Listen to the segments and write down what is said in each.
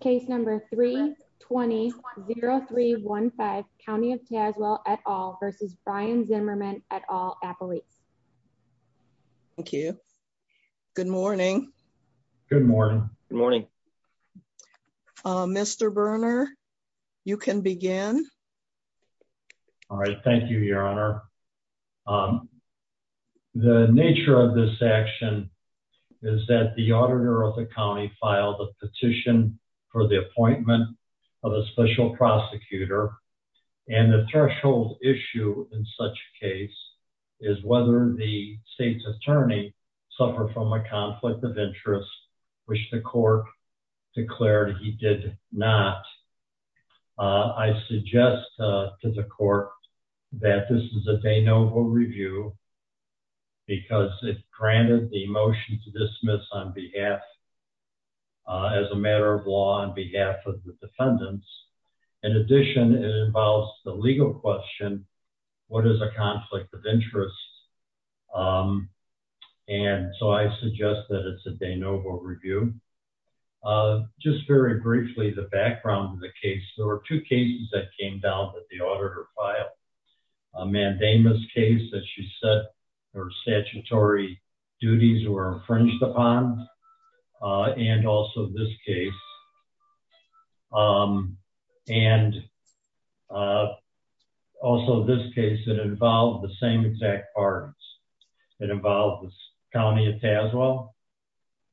Case number three 20 0 3 1 5 County of Tazewell at all versus Brian Zimmerman at all appellate. Thank you. Good morning. Good morning. Good morning. Mr. Burner, you can begin. All right. Thank you, Your Honor. Um, the nature of this action is that the auditor of the county filed a petition for the appointment of a special prosecutor. And the threshold issue in such case is whether the state's attorney suffer from a conflict of interest, which the court declared he did not. I suggest to the court that this is a de novo review because it granted the motion to dismiss on behalf as a matter of law on behalf of the defendants. In addition, it involves the legal question. What is a conflict of interest? Um, and so I suggest that it's a de novo review. Uh, just very briefly, the background of the case, there were two cases that came down that the auditor filed a mandamus case that she said her statutory duties were infringed upon. Uh, and also this case, um, and, uh, also this case that involved the same exact parties that involved the county of Tazewell,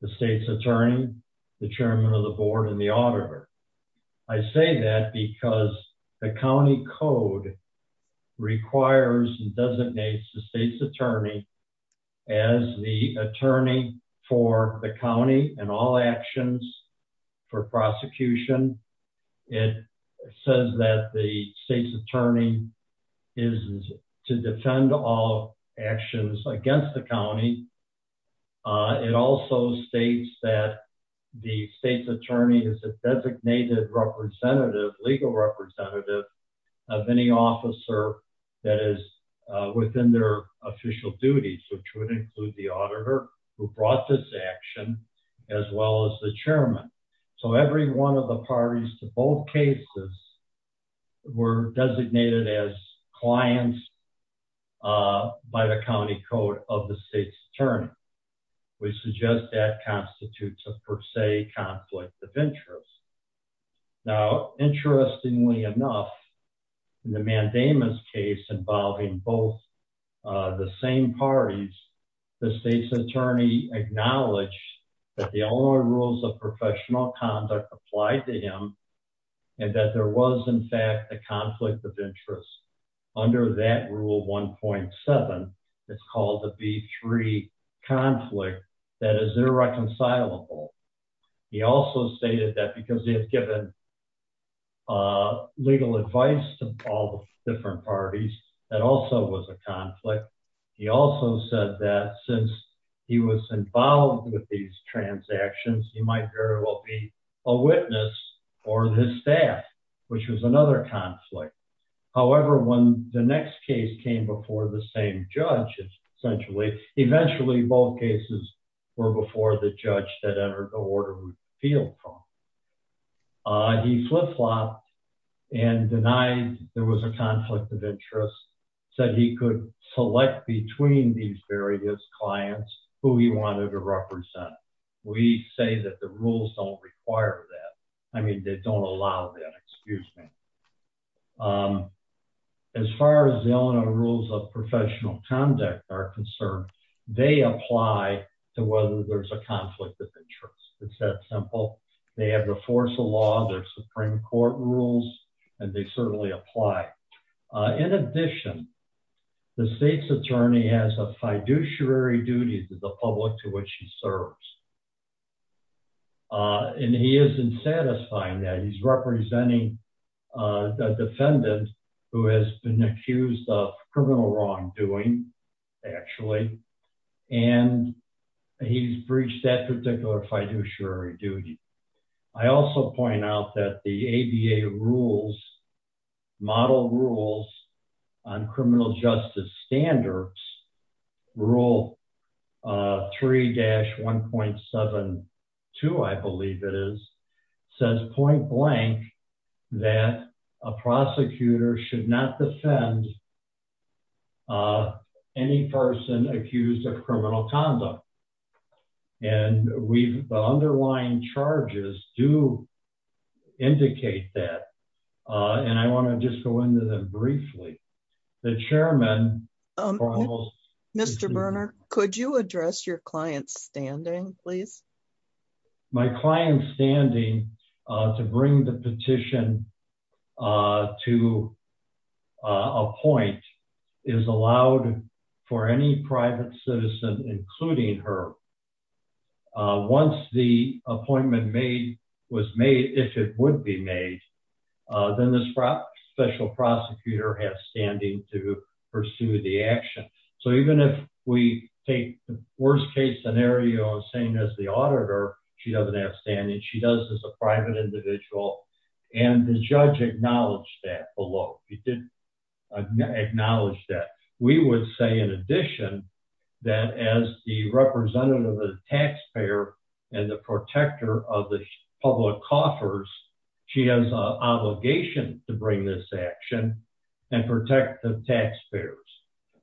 the state's attorney, the chairman of the board, and the auditor. I say that because the county code requires and designates the state's attorney as the attorney for the county and all actions for prosecution. It says that the state's attorney is to defend all actions against the county. Uh, it also states that the state's attorney is a designated representative, legal representative of any officer that is, uh, within their official duties, which would include the auditor who brought this action as well as the chairman. So every one of the parties to both cases were designated as clients, uh, by the county code of the state's attorney. We suggest that constitutes a per se conflict of interest. Now, interestingly enough, in the mandamus case involving both, uh, the same parties, the state's attorney acknowledged that the only rules of professional conduct applied to him and that there was in fact, a conflict of interest under that rule 1.7, it's called the B3 conflict that is irreconcilable. He also stated that because he has given, uh, legal advice to all the different parties that also was a conflict. He also said that since he was involved with these transactions, he might very well be a witness for his staff, which was another conflict. However, when the next case came before the same judge, essentially, eventually both cases were before the judge that entered the order of appeal. He flip-flopped and denied there was a conflict of interest, said he could select between these various clients who he wanted to represent. We say that the rules don't require that. I mean, they don't allow that, excuse me. Um, as far as the Eleanor rules of professional conduct are concerned, they apply to whether there's a conflict of interest. It's that simple. They have the force of law, their Supreme court rules, and they certainly apply. Uh, in addition, the state's attorney has a fiduciary duty to the public to which he serves. Uh, and he isn't satisfying that he's representing, uh, the defendant who has been actually, and he's breached that particular fiduciary duty. I also point out that the ABA rules model rules on criminal justice standards rule, uh, three dash 1.72, I believe it is says point blank that a prosecutor should not defend, uh, any person accused of criminal conduct. And we've the underlying charges do indicate that. Uh, and I want to just go into them briefly. The chairman, um, Mr. Berner, could you address your client's standing, please? My client's standing, uh, to bring the petition, uh, to, uh, appoint is allowed for any private citizen, including her. Uh, once the appointment made was made, if it would be made, uh, then this special prosecutor has standing to pursue the action. So even if we take the worst case scenario same as the auditor, she doesn't have standing. She does as a private individual and the judge acknowledged that below. He did acknowledge that we would say in addition that as the representative of the taxpayer and the protector of the public coffers, she has a obligation to bring this action and protect the taxpayers.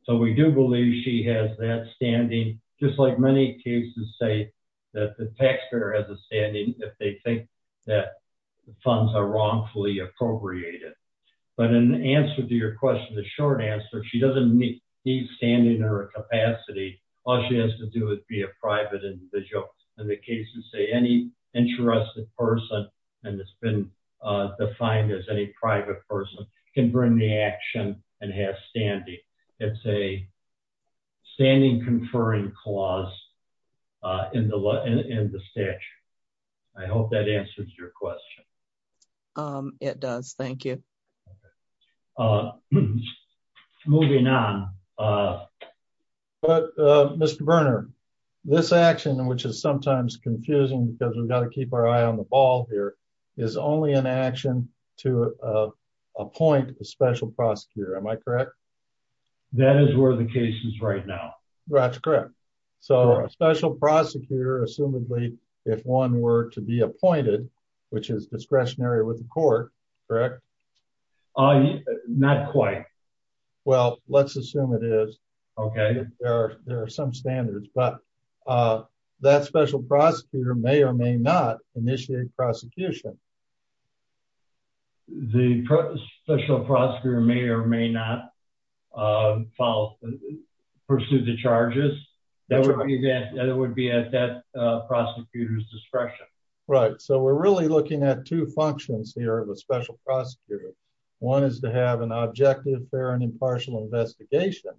So we do believe she has that standing just like many cases say that the taxpayer has a standing. If they think that the funds are wrongfully appropriated, but in answer to your question, the short answer, she doesn't need standing or capacity. All she has to do is be a private individual. And the cases say any interested person, and it's been, uh, defined as any private person can bring the action and have standing. It's a standing conferring clause, uh, in the law and in the stitch. I hope that answers your question. It does. Thank you. Moving on. Uh, but, uh, Mr. Burner, this action, which is sometimes confusing because we've got to keep our eye on the ball here is only an action to, uh, appoint a special prosecutor. Am I correct? That is where the case is right now. That's correct. So a special prosecutor, assumedly, if one were to be appointed, which is discretionary with the court, correct? Not quite. Well, let's assume it is. Okay. There are, there are some standards, but, uh, that special prosecutor may or may not initiate prosecution. The special prosecutor may or may not, uh, follow, pursue the charges that would be at, that it would be at that, uh, prosecutor's discretion. Right. So we're really looking at two functions here of a special prosecutor. One is to have an objective fair and impartial investigation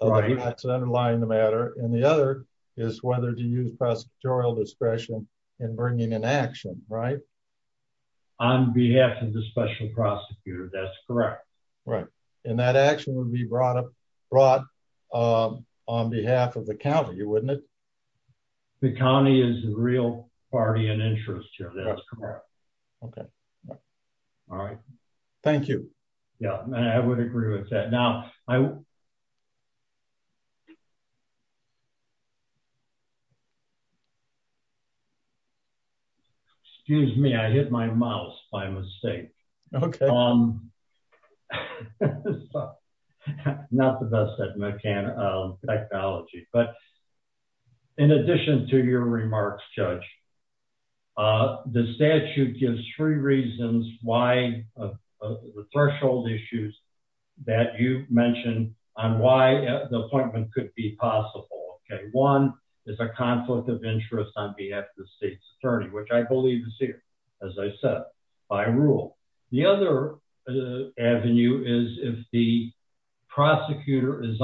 underlying the matter. And the other is whether to use prosecutorial discretion in bringing an action, right? On behalf of the special prosecutor. That's correct. Right. And that action would be brought up, brought, um, on behalf of the county. You wouldn't it? The county is real party and interest here. That's correct. Okay. All right. Thank you. Yeah, I would agree with that now. I, excuse me, I hit my mouse by mistake. Okay. Um, not the best at mechanic, uh, technology, but in addition to your remarks, judge, uh, the statute gives three reasons why, uh, uh, the threshold issues that you mentioned on why the appointment could be possible. Okay. One is a conflict of interest on behalf of the state's attorney, which I believe is here, as I said, by rule. The other avenue is if the prosecutor is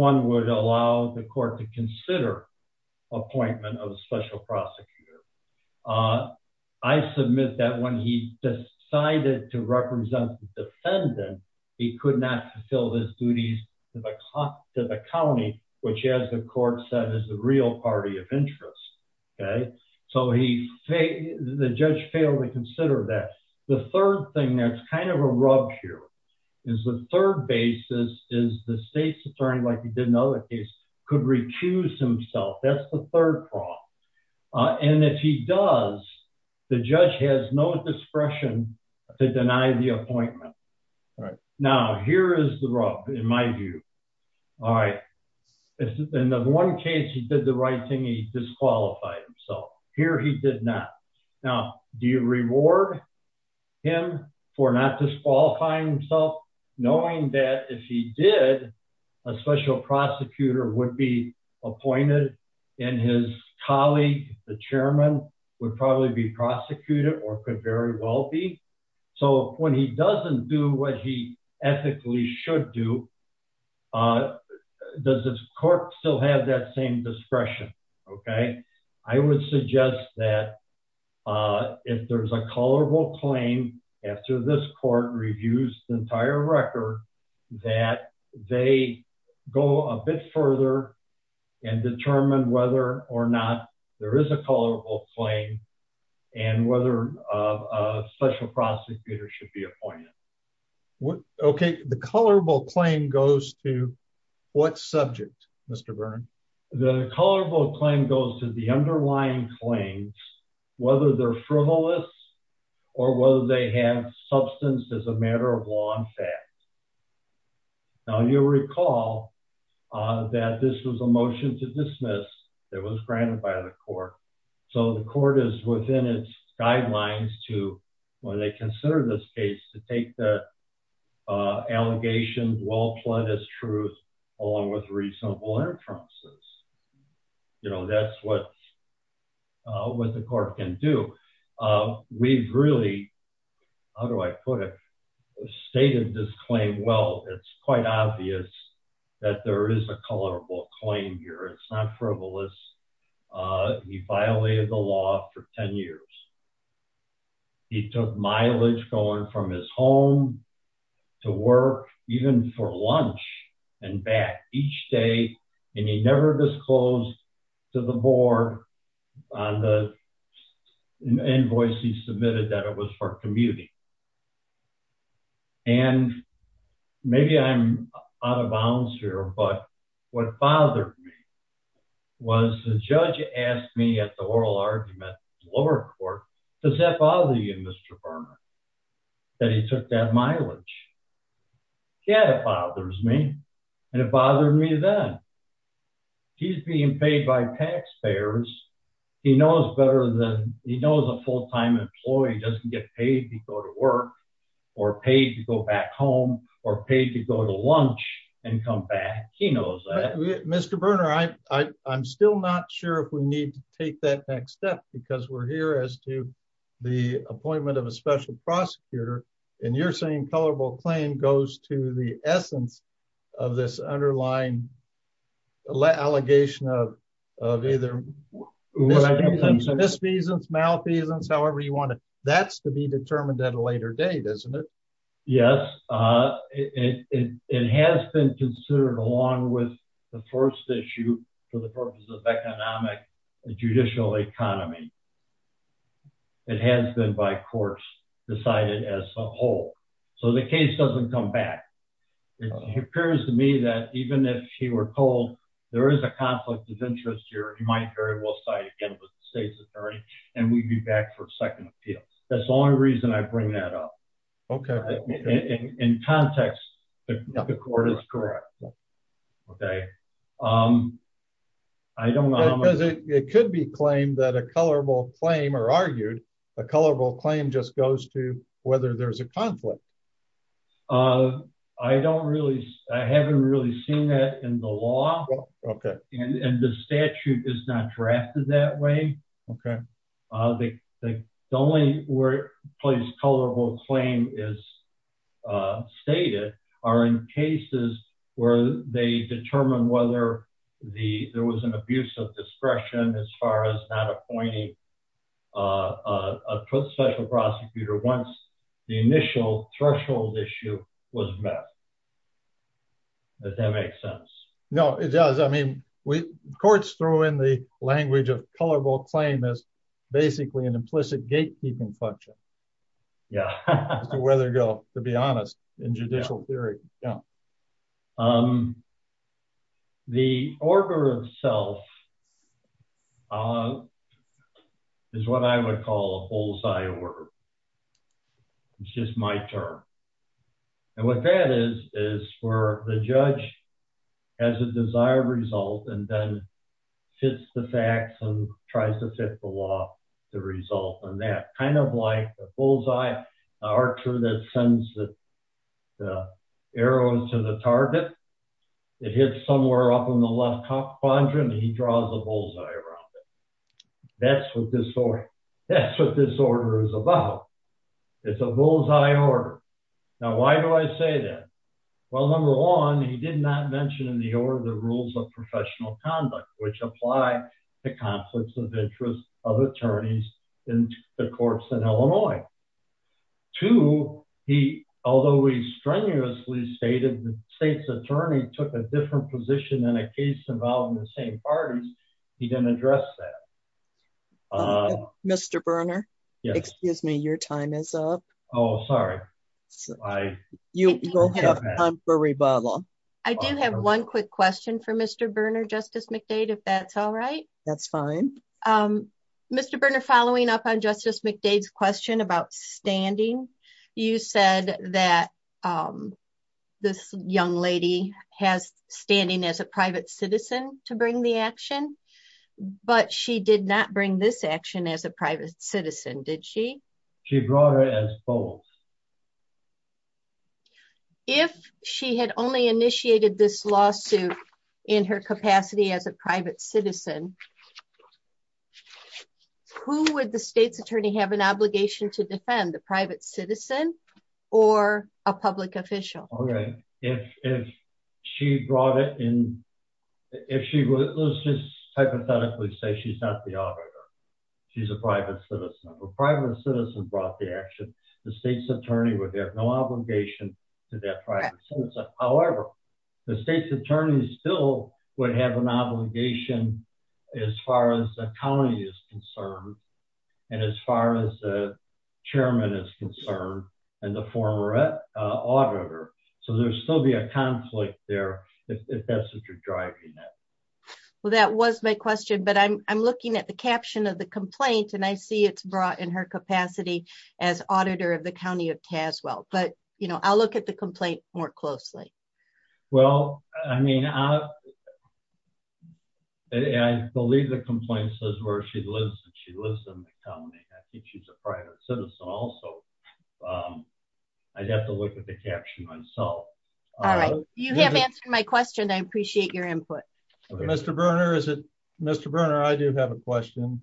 one would allow the court to consider appointment of a special prosecutor. Uh, I submit that when he decided to represent the defendant, he could not fulfill his duties to the, to the county, which as the court said is the real party of interest. Okay. So he, the judge failed to consider that. The third thing that's kind of a rub here is the third basis is the state's attorney. Like you didn't know that case could recuse himself. That's the third problem. Uh, and if he does, the judge has no discretion to deny the appointment. All right. Now here is the rub in my view. All right. In the one case, he did the right thing. He disqualified himself here. He did not. Now do you reward him for not disqualifying himself knowing that if he did a special prosecutor would be appointed and his colleague, the chairman would probably be prosecuted or could very well be. So when he doesn't do what he ethically should do, uh, does this court still have that same discretion? Okay. I would suggest that, uh, if there's a colorable claim after this court reviews the entire record that they go a bit further and determine whether or not there is a colorable claim and whether a special prosecutor should be appointed. Okay. The colorable claim goes to what subject Mr. Whether they're frivolous or whether they have substance as a matter of law and fact. Now you'll recall, uh, that this was a motion to dismiss that was granted by the court. So the court is within its guidelines to when they consider this case to take the, uh, what the court can do. Uh, we've really, how do I put it stated this claim? Well, it's quite obvious that there is a colorable claim here. It's not frivolous. Uh, he violated the law for 10 years. He took mileage going from his home to work, even for lunch and back each day and he never disclosed to the board on the invoice he submitted that it was for commuting. And maybe I'm out of bounds here, but what bothered me was the judge asked me at the oral argument lower court, does that bother you, Mr. Berman, that he took that mileage. Yeah, that bothers me. And it bothered me that he's being paid by taxpayers. He knows better than he knows a full-time employee doesn't get paid to go to work or paid to go back home or paid to go to lunch and come back. He knows that Mr. Berner, I, I, I'm still not sure if we need to take that next step because we're here as to the appointment of special prosecutor. And you're saying colorable claim goes to the essence of this underlying allegation of, of either misdemeanors, malfeasance, however you want it, that's to be determined at a later date, isn't it? Yes. Uh, it, it, it, it has been considered along with the first issue for the purpose of economic and judicial economy. It has been by course decided as a whole. So the case doesn't come back. It appears to me that even if he were told there is a conflict of interest here, he might very well side again with the state's attorney and we'd be back for a second appeal. That's the only reason I bring that up. Okay. In context, the court is correct. Okay. Um, I don't know. It could be claimed that a colorable claim or argued a colorable claim just goes to whether there's a conflict. Uh, I don't really, I haven't really seen that in the law. Okay. And the statute is not drafted that way. Okay. Uh, the, the only word place colorable claim is, uh, stated are in cases where they determine whether the, there was an abuse of discretion as far as not appointing, uh, uh, a special prosecutor once the initial threshold issue was met. Does that make sense? No, it does. I mean, we courts throw in the language of colorable claim is basically an implicit gatekeeping function. Yeah. Whether to be honest in judicial theory. Yeah. Um, the order of self, uh, is what I would call a bullseye order. It's just my term. And what that is, is for the judge as a desired result and then fits the facts and tries to fit the law, the result on that kind of like a bullseye archer that sends the arrows to the target. It hits somewhere up in the left top quadrant. He draws a bullseye around it. That's what this story, that's what this order is about. It's a bullseye order. Now, why do I say that? Well, number one, he did not mention in the order of the rules of professional conduct, which apply the conflicts of interest of attorneys in the courts in Illinois to he, although we strenuously stated the state's attorney took a different position in a case involving the same parties. He didn't address that. Uh, Mr. Berner, excuse me. Your time is up. Oh, sorry. You go ahead. I'm for rebuttal. I do have one quick question for Mr. Berner, justice McDade, if that's all right, that's fine. Mr. Berner, following up on justice McDade's question about standing, you said that, um, this young lady has standing as a private citizen to bring the action, but she did not bring this action as a private citizen. Did she? She brought her as both. If she had only initiated this lawsuit in her capacity as a private citizen, who would the state's attorney have an obligation to defend the private citizen or a public official? Okay. If, if she brought it in, if she was just hypothetically say, she's not the auditor, she's a private citizen, a private citizen brought the action. The state's attorney would have no obligation to that. However, the state's attorney still would have an obligation as far as the county is concerned. And as far as the chairman is concerned and the former, uh, auditor. So there's still be a conflict there. If that's what you're driving. Well, that was my question, but I'm, I'm looking at the caption of the complaint and I see it's brought in her capacity as auditor of the County of Tazewell, but you know, I'll look at the caption. I believe the complaint says where she lives and she lives in the county. I think she's a private citizen also. Um, I'd have to look at the caption myself. All right. You have answered my question. I appreciate your input. Mr. Berner. Is it Mr. Berner? I do have a question.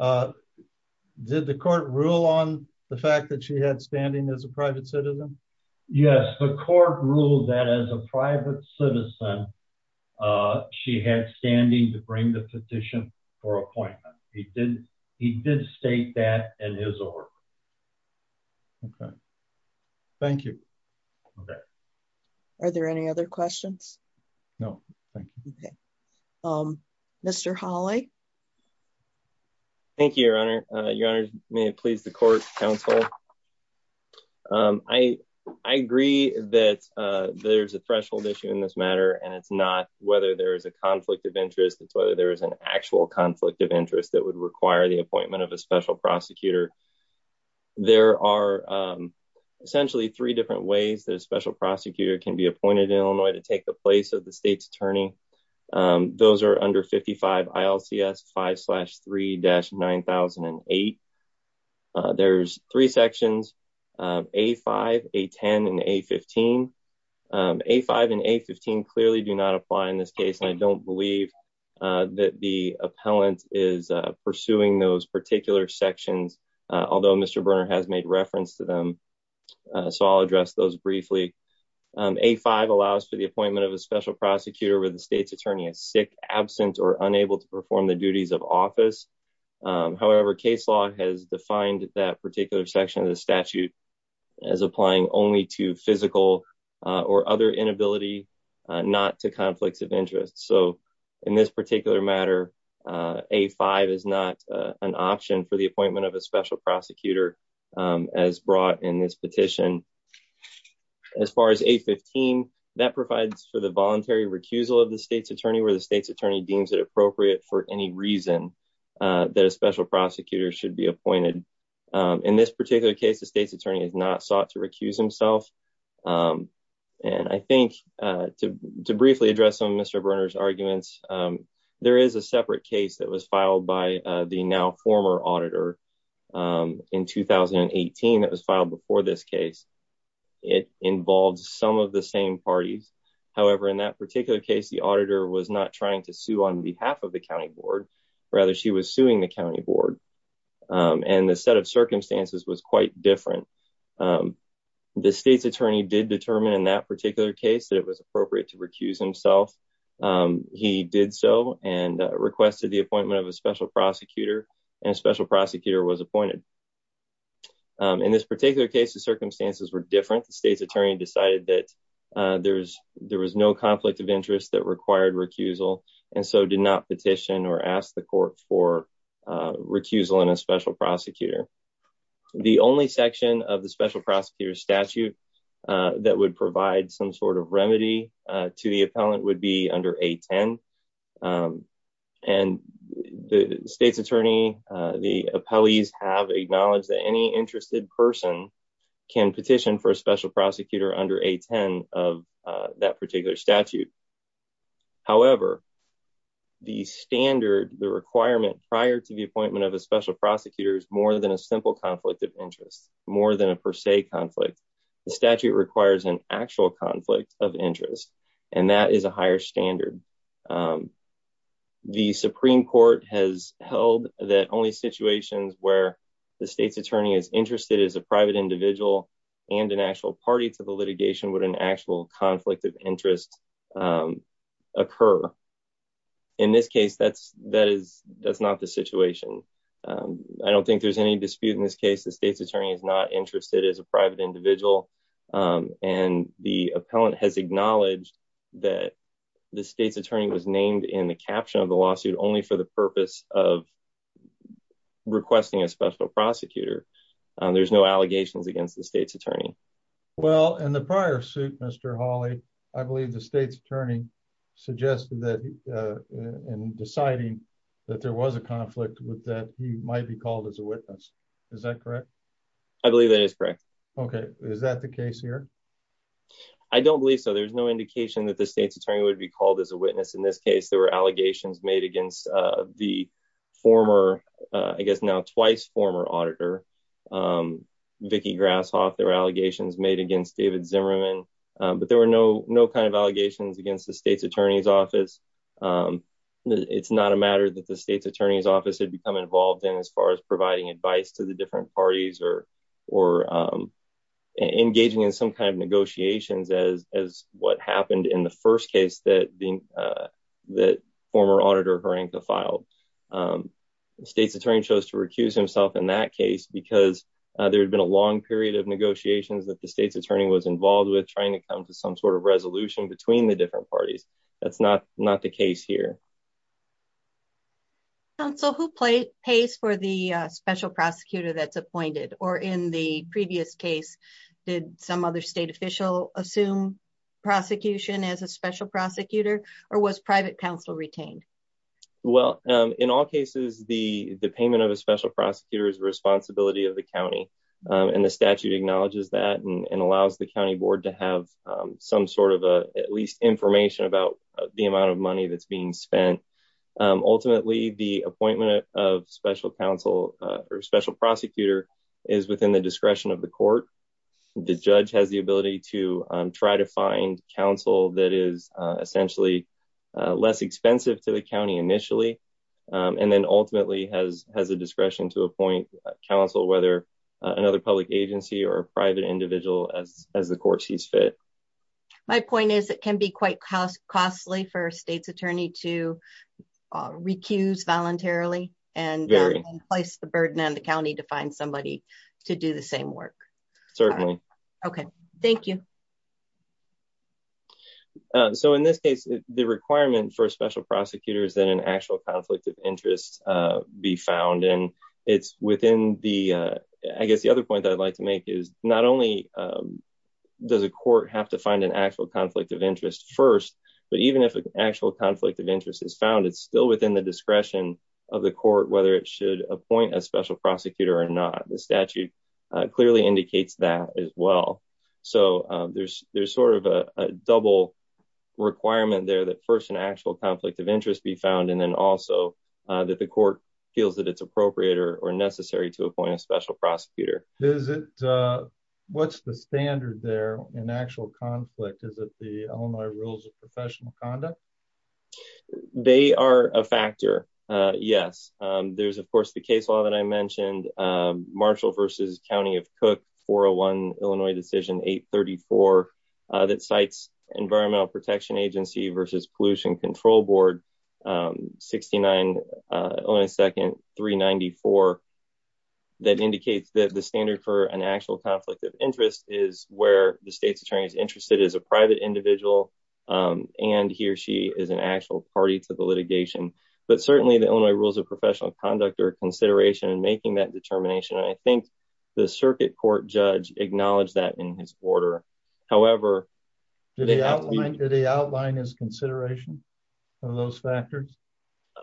Did the court rule on the fact that she had standing as a private citizen? Yes. The court ruled that as a private citizen, uh, she had standing to bring the petition for appointment. He did. He did state that in his org. Okay. Thank you. Okay. Are there any other questions? No. Thank you. Okay. Um, Mr. Holly. Thank you, your honor. Uh, your honor may please the court counsel. Um, I, I agree that, uh, there's a threshold issue in this matter and it's not whether there is a conflict of interest. It's whether there is an actual conflict of interest that would require the appointment of a special prosecutor. There are, um, essentially three different ways that a special prosecutor can be appointed in Illinois to take the place of the state's attorney. Um, those are under 55 five slash three dash 9,008. Uh, there's three sections, um, a five, a 10 and a 15, um, a five and a 15 clearly do not apply in this case. And I don't believe, uh, that the appellant is pursuing those particular sections. Uh, although Mr. Berner has made reference to them. Uh, so I'll address those briefly. Um, a five allows for the appointment of a special prosecutor where the perform the duties of office. Um, however, case law has defined that particular section of the statute as applying only to physical, uh, or other inability, uh, not to conflicts of interest. So in this particular matter, uh, a five is not, uh, an option for the appointment of a special prosecutor, um, as brought in this petition, as far as a 15 that provides for the voluntary recusal of the state's attorney, where the state's attorney deems it appropriate for any reason, uh, that a special prosecutor should be appointed. Um, in this particular case, the state's attorney has not sought to recuse himself. Um, and I think, uh, to, to briefly address some of Mr. Berner's arguments, um, there is a separate case that was filed by, uh, the now former auditor, um, in 2018, that was filed before this case. It involves some of the same parties. However, in that particular case, the auditor was not trying to sue on behalf of the county board, rather she was suing the county board. Um, and the set of circumstances was quite different. Um, the state's attorney did determine in that particular case that it was appropriate to recuse himself. Um, he did so and, uh, requested the appointment of a special prosecutor and a special prosecutor was appointed. Um, in this particular case, the circumstances were different. The state's attorney decided that, uh, there's, there was no conflict of interest that required recusal and so did not petition or ask the court for, uh, recusal in a special prosecutor. The only section of the special prosecutor statute, uh, that would provide some sort of remedy, uh, to the appellant would be under 810. Um, and the state's attorney, uh, the appellees have acknowledged that any interested person can petition for a special prosecutor under 810 of, uh, that particular statute. However, the standard, the requirement prior to the appointment of a special prosecutor is more than a simple conflict of interest, more than a per se conflict. The statute requires an actual conflict of interest, and that is a higher standard. Um, the Supreme Court has held that only situations where the state's attorney is interested as a private individual and an actual party to the litigation would an actual conflict of interest, um, occur. In this case, that's, that is, that's not the situation. Um, I don't think there's any dispute in this case. The state's attorney is not interested as a private individual. Um, and the appellant has acknowledged that the state's attorney was named in the caption of the lawsuit only for the purpose of requesting a special prosecutor. Um, there's no allegations against the state's attorney. Well, in the prior suit, Mr Hawley, I believe the state's attorney suggested that, uh, in deciding that there was a conflict with that, he might be called as a witness. Is that correct? I believe that is correct. Okay. Is that the case here? I don't believe so. There's no indication that the state's attorney would be called as a witness. In this case, there were allegations made against, uh, the former, uh, I guess now twice former auditor, um, Vicky Grasshoff, there were allegations made against David Zimmerman. Um, but there were no, no kind of allegations against the state's attorney's office. Um, it's not a matter that the state's attorney's office had become involved in as far as providing advice to the different parties or, or, um, engaging in some kind of negotiations as, as happened in the first case that being, uh, that former auditor Horanka filed. Um, the state's attorney chose to recuse himself in that case because, uh, there had been a long period of negotiations that the state's attorney was involved with trying to come to some sort of resolution between the different parties. That's not, not the case here. So who plays pays for the special prosecutor that's appointed or in the previous case, did some other state official assume prosecution as a special prosecutor or was private counsel retained? Well, um, in all cases, the, the payment of a special prosecutor is responsibility of the county. Um, and the statute acknowledges that and allows the county board to have, um, some sort of a, at least information about the amount of money that's being spent. Um, ultimately the appointment of special counsel, uh, or special prosecutor is within the discretion of the court. The judge has ability to try to find counsel that is, uh, essentially, uh, less expensive to the county initially. Um, and then ultimately has, has a discretion to appoint counsel, whether another public agency or private individual as, as the court sees fit. My point is it can be quite cost, costly for a state's attorney to recuse voluntarily and place the burden on the thank you. Um, so in this case, the requirement for a special prosecutor is that an actual conflict of interest, uh, be found and it's within the, uh, I guess the other point that I'd like to make is not only, um, does a court have to find an actual conflict of interest first, but even if an actual conflict of interest is found, it's still within the discretion of the court, whether it should appoint a special prosecutor or not. The statute clearly indicates that as well. So, um, there's, there's sort of a double requirement there that first an actual conflict of interest be found. And then also, uh, that the court feels that it's appropriate or necessary to appoint a special prosecutor. Is it, uh, what's the standard there in actual conflict? Is it the Illinois rules of professional conduct? They are a factor. Uh, yes. Um, there's of course the case law that I mentioned, um, Marshall versus County of cook for a one Illinois decision, eight 34, uh, that cites environmental protection agency versus pollution control board. Um, 69, uh, only second three 94. That indicates that the standard for an actual conflict of interest is where the state's attorney is interested as a private individual. Um, and he or she is an party to the litigation, but certainly the Illinois rules of professional conduct or consideration and making that determination. And I think the circuit court judge acknowledged that in his order. However, did he outline his consideration of those factors?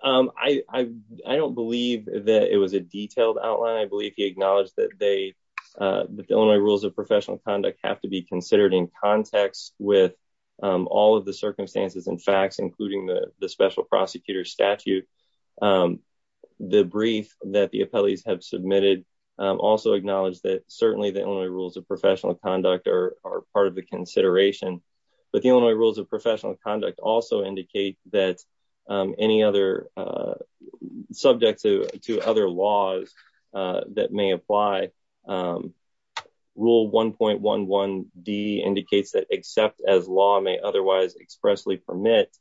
Um, I, I, I don't believe that it was a detailed outline. I believe he acknowledged that they, uh, the Illinois rules of professional conduct have to be considered in context with, um, all the circumstances and facts, including the special prosecutor statute. Um, the brief that the appellees have submitted, um, also acknowledge that certainly the only rules of professional conduct are, are part of the consideration, but the Illinois rules of professional conduct also indicate that, um, any other, uh, subjects to, to other laws, uh, that may apply. Um, rule 1.11 D indicates that except as law may otherwise expressly permit,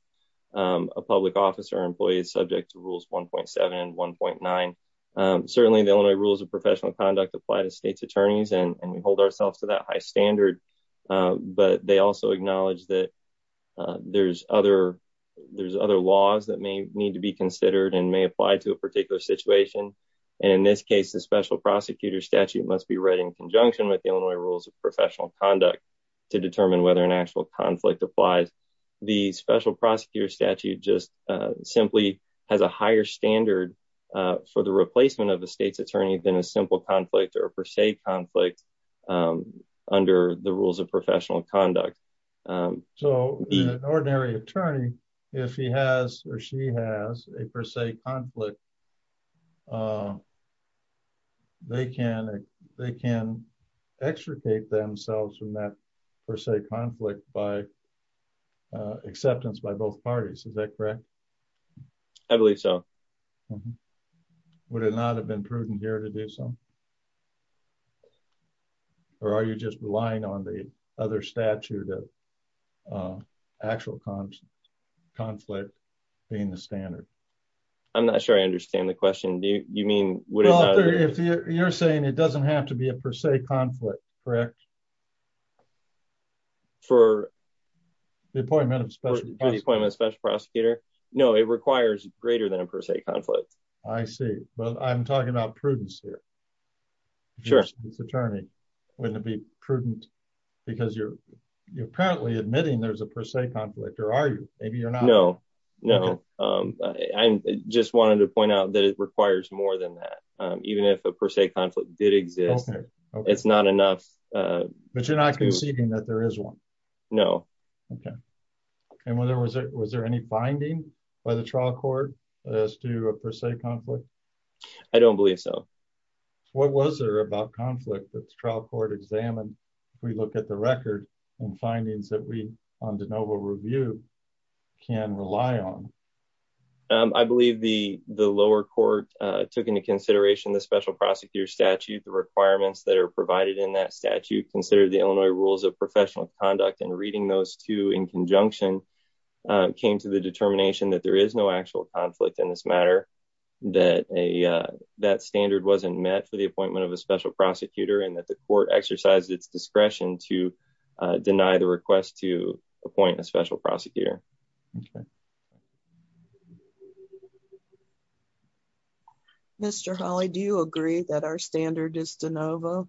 um, a public officer employee is subject to rules 1.7 and 1.9. Um, certainly the only rules of professional conduct apply to state's attorneys and we hold ourselves to that high standard. Um, but they also acknowledge that, uh, there's other, there's other laws that may need to be considered and may apply to a particular situation. And in this case, the special prosecutor statute must be read in conjunction with the Illinois rules of professional conduct to determine whether an actual conflict applies. The special prosecutor statute just, uh, simply has a higher standard, uh, for the replacement of the state's attorney than a simple conflict or per se conflict, um, under the rules of professional conduct. Um, so an ordinary attorney, if he has, or she has a per se conflict, uh, they can, they can extricate themselves from that per se conflict by, uh, acceptance by both parties. Is that correct? I believe so. Would it not have been prudent here to do some, or are you just relying on the other statute of, uh, actual conflict being the standard? I'm not sure I understand the question. Do you mean, you're saying it doesn't have to be a per se conflict, correct? For the appointment of special prosecutor? No, it requires greater than a per se conflict. I see. Well, I'm talking about prudence here. Sure. It's attorney when it'd be prudent because you're, you're apparently admitting there's a per se conflict or are you, maybe you're not. No. Um, I just wanted to point out that it requires more than that. Um, even if a per se conflict did exist, it's not enough. Uh, but you're not conceding that there is one. No. Okay. And when there was, was there any binding by the trial court as to a per se conflict? I don't believe so. What was there about conflict that's trial court examined? If we look at the record and findings that we on de novo review can rely on. Um, I believe the, the lower court, uh, took into consideration the special prosecutor statute, the requirements that are provided in that statute, consider the Illinois rules of professional conduct and reading those two in conjunction, uh, came to the determination that there is no actual conflict in this matter, that a, uh, that standard wasn't met for the appointment of a special prosecutor and that the court exercised its discretion to, uh, deny the request to appoint a special prosecutor. Okay. Mr. Holly, do you agree that our standard is de novo?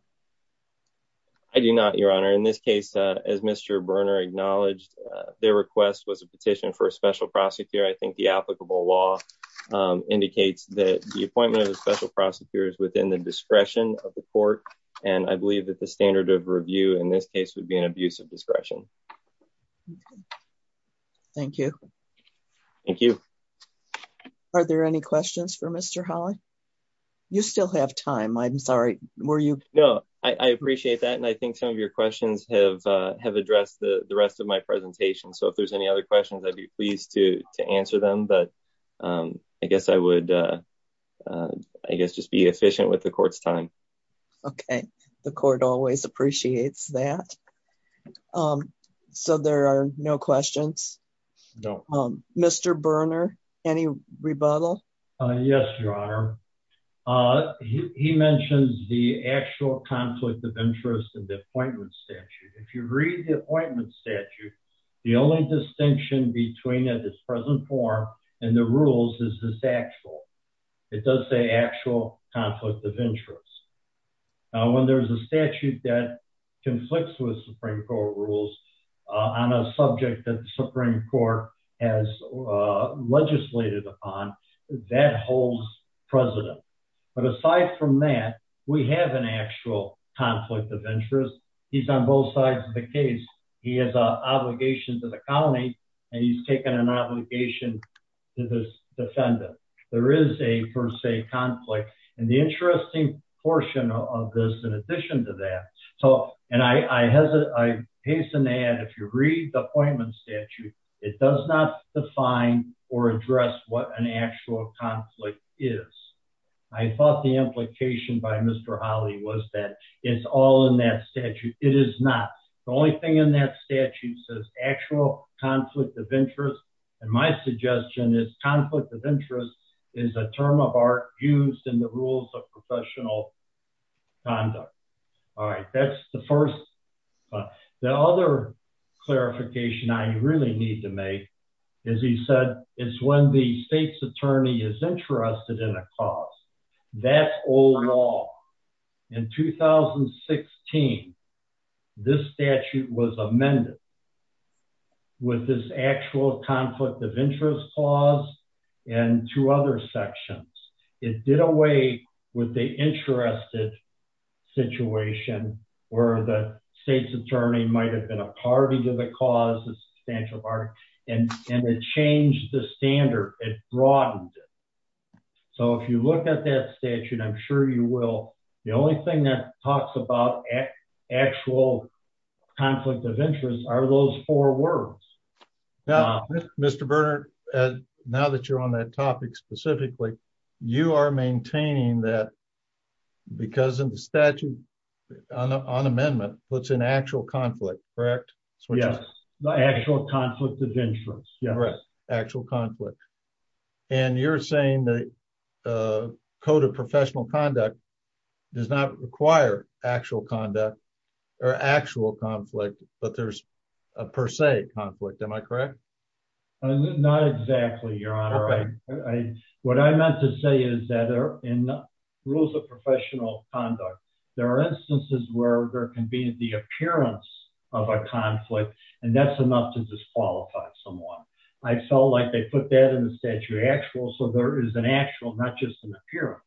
I do not your honor. In this case, uh, as Mr. Berner acknowledged, uh, their request was a petition for a special prosecutor. I think the applicable law, um, indicates that the appointment of a special prosecutor is within the discretion of the court. And I believe that the standard of review in this case would be an abuse of discretion. Okay. Thank you. Thank you. Are there any questions for Mr. Holly? You still have time. I'm sorry. Were you? No, I appreciate that. And I think some of your questions have, uh, have addressed the rest of my presentation. So if there's any other questions, I'd be pleased to, to answer them, but, um, I guess I would, uh, uh, I guess just be efficient with the court's time. Okay. The court always appreciates that. Um, so there are no questions. No. Um, Mr. Berner, any rebuttal? Uh, yes, your honor. Uh, he, he mentions the actual conflict of interest and the appointment statute. If you read the appointment statute, the only distinction between the present form and the rules is this actual, it does say actual conflict of interest. Now, when there's a statute that conflicts with Supreme court rules, uh, on a subject that the Supreme court has, uh, legislated upon that holds president. But aside from that, we have an actual conflict of interest. He's on both sides of the case. He has a obligation to the he's taken an obligation to this defendant. There is a per se conflict. And the interesting portion of this, in addition to that, so, and I, I, I hasten to add, if you read the appointment statute, it does not define or address what an actual conflict is. I thought the implication by Mr. Holly was that it's all in that statute. It is not the only thing in that statute says actual conflict of interest. And my suggestion is conflict of interest is a term of art used in the rules of professional conduct. All right. That's the first, but the other clarification I really need to make is he said it's when the state's attorney is interested in a cause that's old law. In 2016, this statute was amended with this actual conflict of interest clause and two other sections. It did away with the interested situation where the state's attorney might've been a party to the cause, the statute of art, and it changed the standard. It broadened it. So if you look at that statute, I'm sure you will. The only thing that talks about actual conflict of interest are those four words. Mr. Bernard, now that you're on that topic, specifically, you are maintaining that because of the statute on amendment, what's an actual conflict, correct? Yes. The actual conflict of interest. Yes. Correct. Actual conflict. And you're saying the code of professional conduct does not require actual conduct or actual conflict, but there's a per se conflict. Am I correct? Not exactly, your honor. What I meant to say is that in the rules of professional conduct, there are instances where there can be the appearance of a conflict and that's enough to disqualify someone. I felt like they put that in the statute of actuals. So there is an actual, not just an appearance.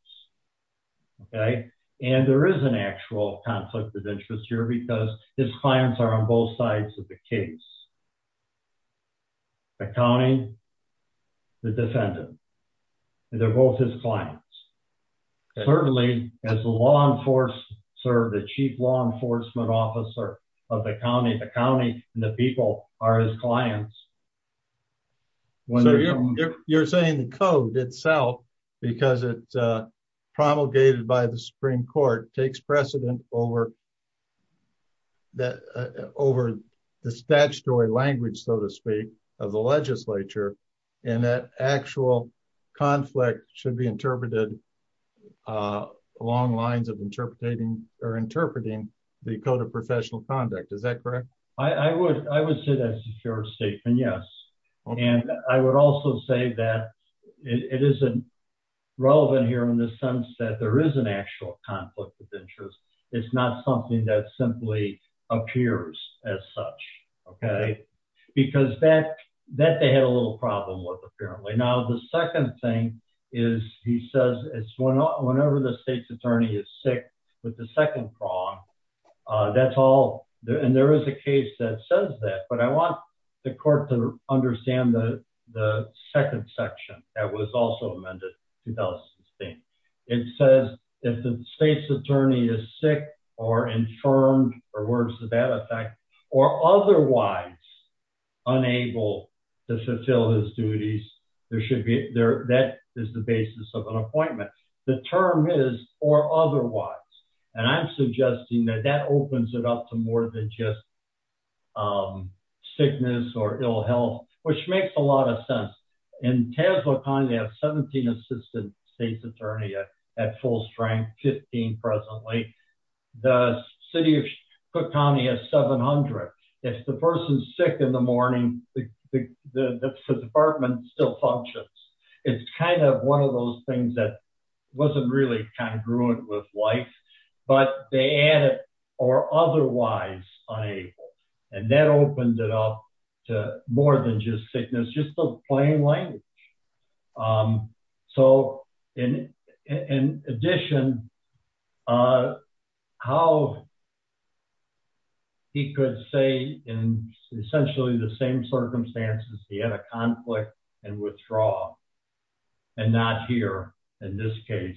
Okay. And there is an actual conflict of interest here because his clients are on both sides of the case. The county, the defendant, and they're both his clients. Certainly as a law enforcer, the chief law enforcement officer of the county, the county and the people are his clients. You're saying the code itself, because it's promulgated by the Supreme Court, takes precedent over the statutory language, so to speak, of the legislature. And that actual conflict should be interpreted along lines of interpreting the code of professional conduct. Is that correct? I would say that's a fair statement. Yes. And I would also say that it isn't relevant here in the sense that there is an actual conflict of interest. That they had a little problem with, apparently. Now, the second thing is, he says, it's whenever the state's attorney is sick with the second prong, that's all. And there is a case that says that, but I want the court to understand the second section that was also amended to Ellison's name. It says if the state's attorney is sick or infirmed, or worse to that effect, or otherwise unable to fulfill his duties, that is the basis of an appointment. The term is, or otherwise. And I'm suggesting that that opens it up to more than just sickness or ill health, which makes a lot of sense. In Tazewell County, they have 17 assistant state's attorney at full strength, 15 presently. The city of Cook County has 700. If the person's sick in the morning, the department still functions. It's kind of one of those things that wasn't really congruent with life, but they add it or otherwise unable. And that opened it up to more than just sickness, just the plain language. So in addition, how he could say in essentially the same circumstances, he had a conflict and withdraw and not hear, in this case,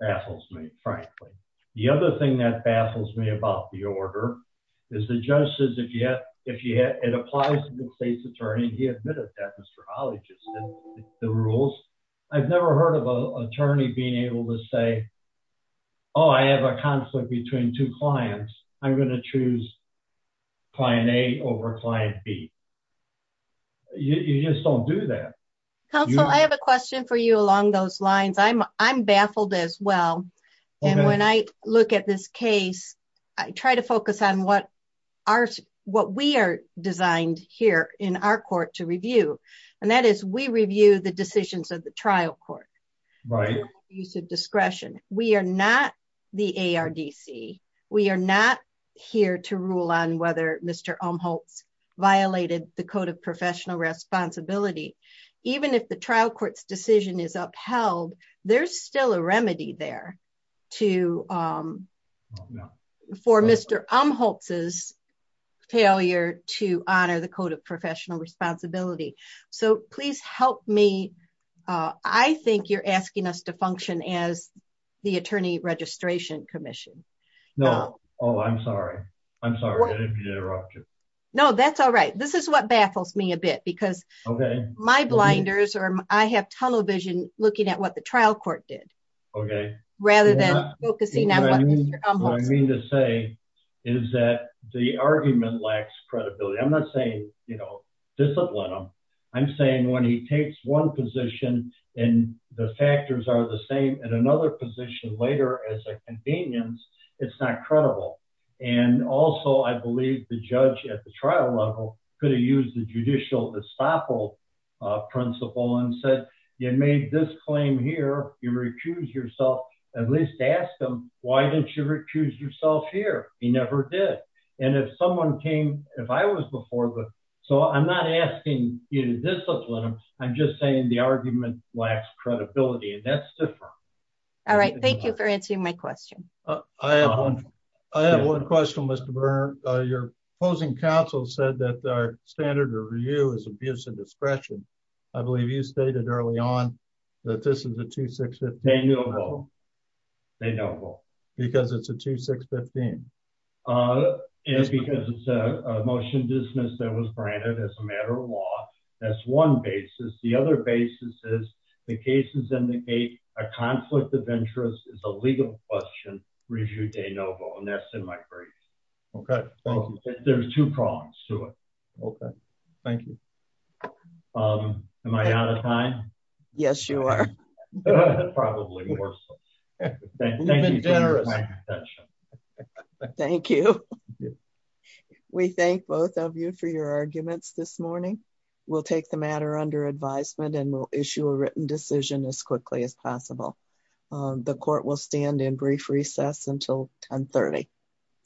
baffles me, frankly. The other thing that baffles me about the order is the judge says, if you have, if you had, it applies to the state's attorney, he admitted that Mr. Holley, just the rules. I've never heard of a attorney being able to say, oh, I have a conflict between two clients. I'm going to choose client A over client B. You just don't do that. Counsel, I have a question for you along those lines. I'm, I'm baffled as well. And when I look at this case, I try to focus on what we are designed here in our court to review. And that is we review the decisions of the trial court. Use of discretion. We are not the ARDC. We are not here to rule on whether Mr. Umholtz violated the code of professional responsibility. Even if the trial court's decision is upheld, there's still a remedy there to, um, for Mr. Umholtz's failure to honor the code of professional responsibility. So please help me. Uh, I think you're asking us to function as the attorney registration commission. No. Oh, I'm sorry. I'm sorry. I didn't mean to interrupt you. No, that's all right. This is what baffles me a bit because my blinders or I have tunnel vision looking at what the trial court did rather than focusing on what Mr. Umholtz did. What I mean to say is that the argument lacks credibility. I'm not saying, you know, discipline him. I'm saying when he takes one position and the factors are the same and another position later as a convenience, it's not credible. And also I believe the judge at the trial level could have used the judicial estoppel principle and said, you made this claim here. You recuse yourself at least ask them. Why didn't you recuse yourself here? He never did. And if someone came, if I was before, but so I'm not asking you to discipline them. I'm just saying the argument lacks credibility and that's different. All right. Thank you for answering my question. I have one. I have one question, Mr. Burner. Uh, your opposing counsel said that our standard or review is abuse of discretion. I believe you stated early on that this is a two, six, 15. They know. They know. Because it's a two, six, 15. Uh, it's because it's a motion dismissed that was granted as a matter of law. That's one basis. The other basis is the cases in the gate, a conflict of interest is a legal question. And that's in my brain. Okay. There's two prongs to it. Okay. Thank you. Um, am I out of time? Yes, you are probably worse. Thank you. We thank both of you for your arguments this morning. We'll take the matter under advisement and we'll issue a written decision as quickly as possible. Um, the court will stand in brief recess until 10 30.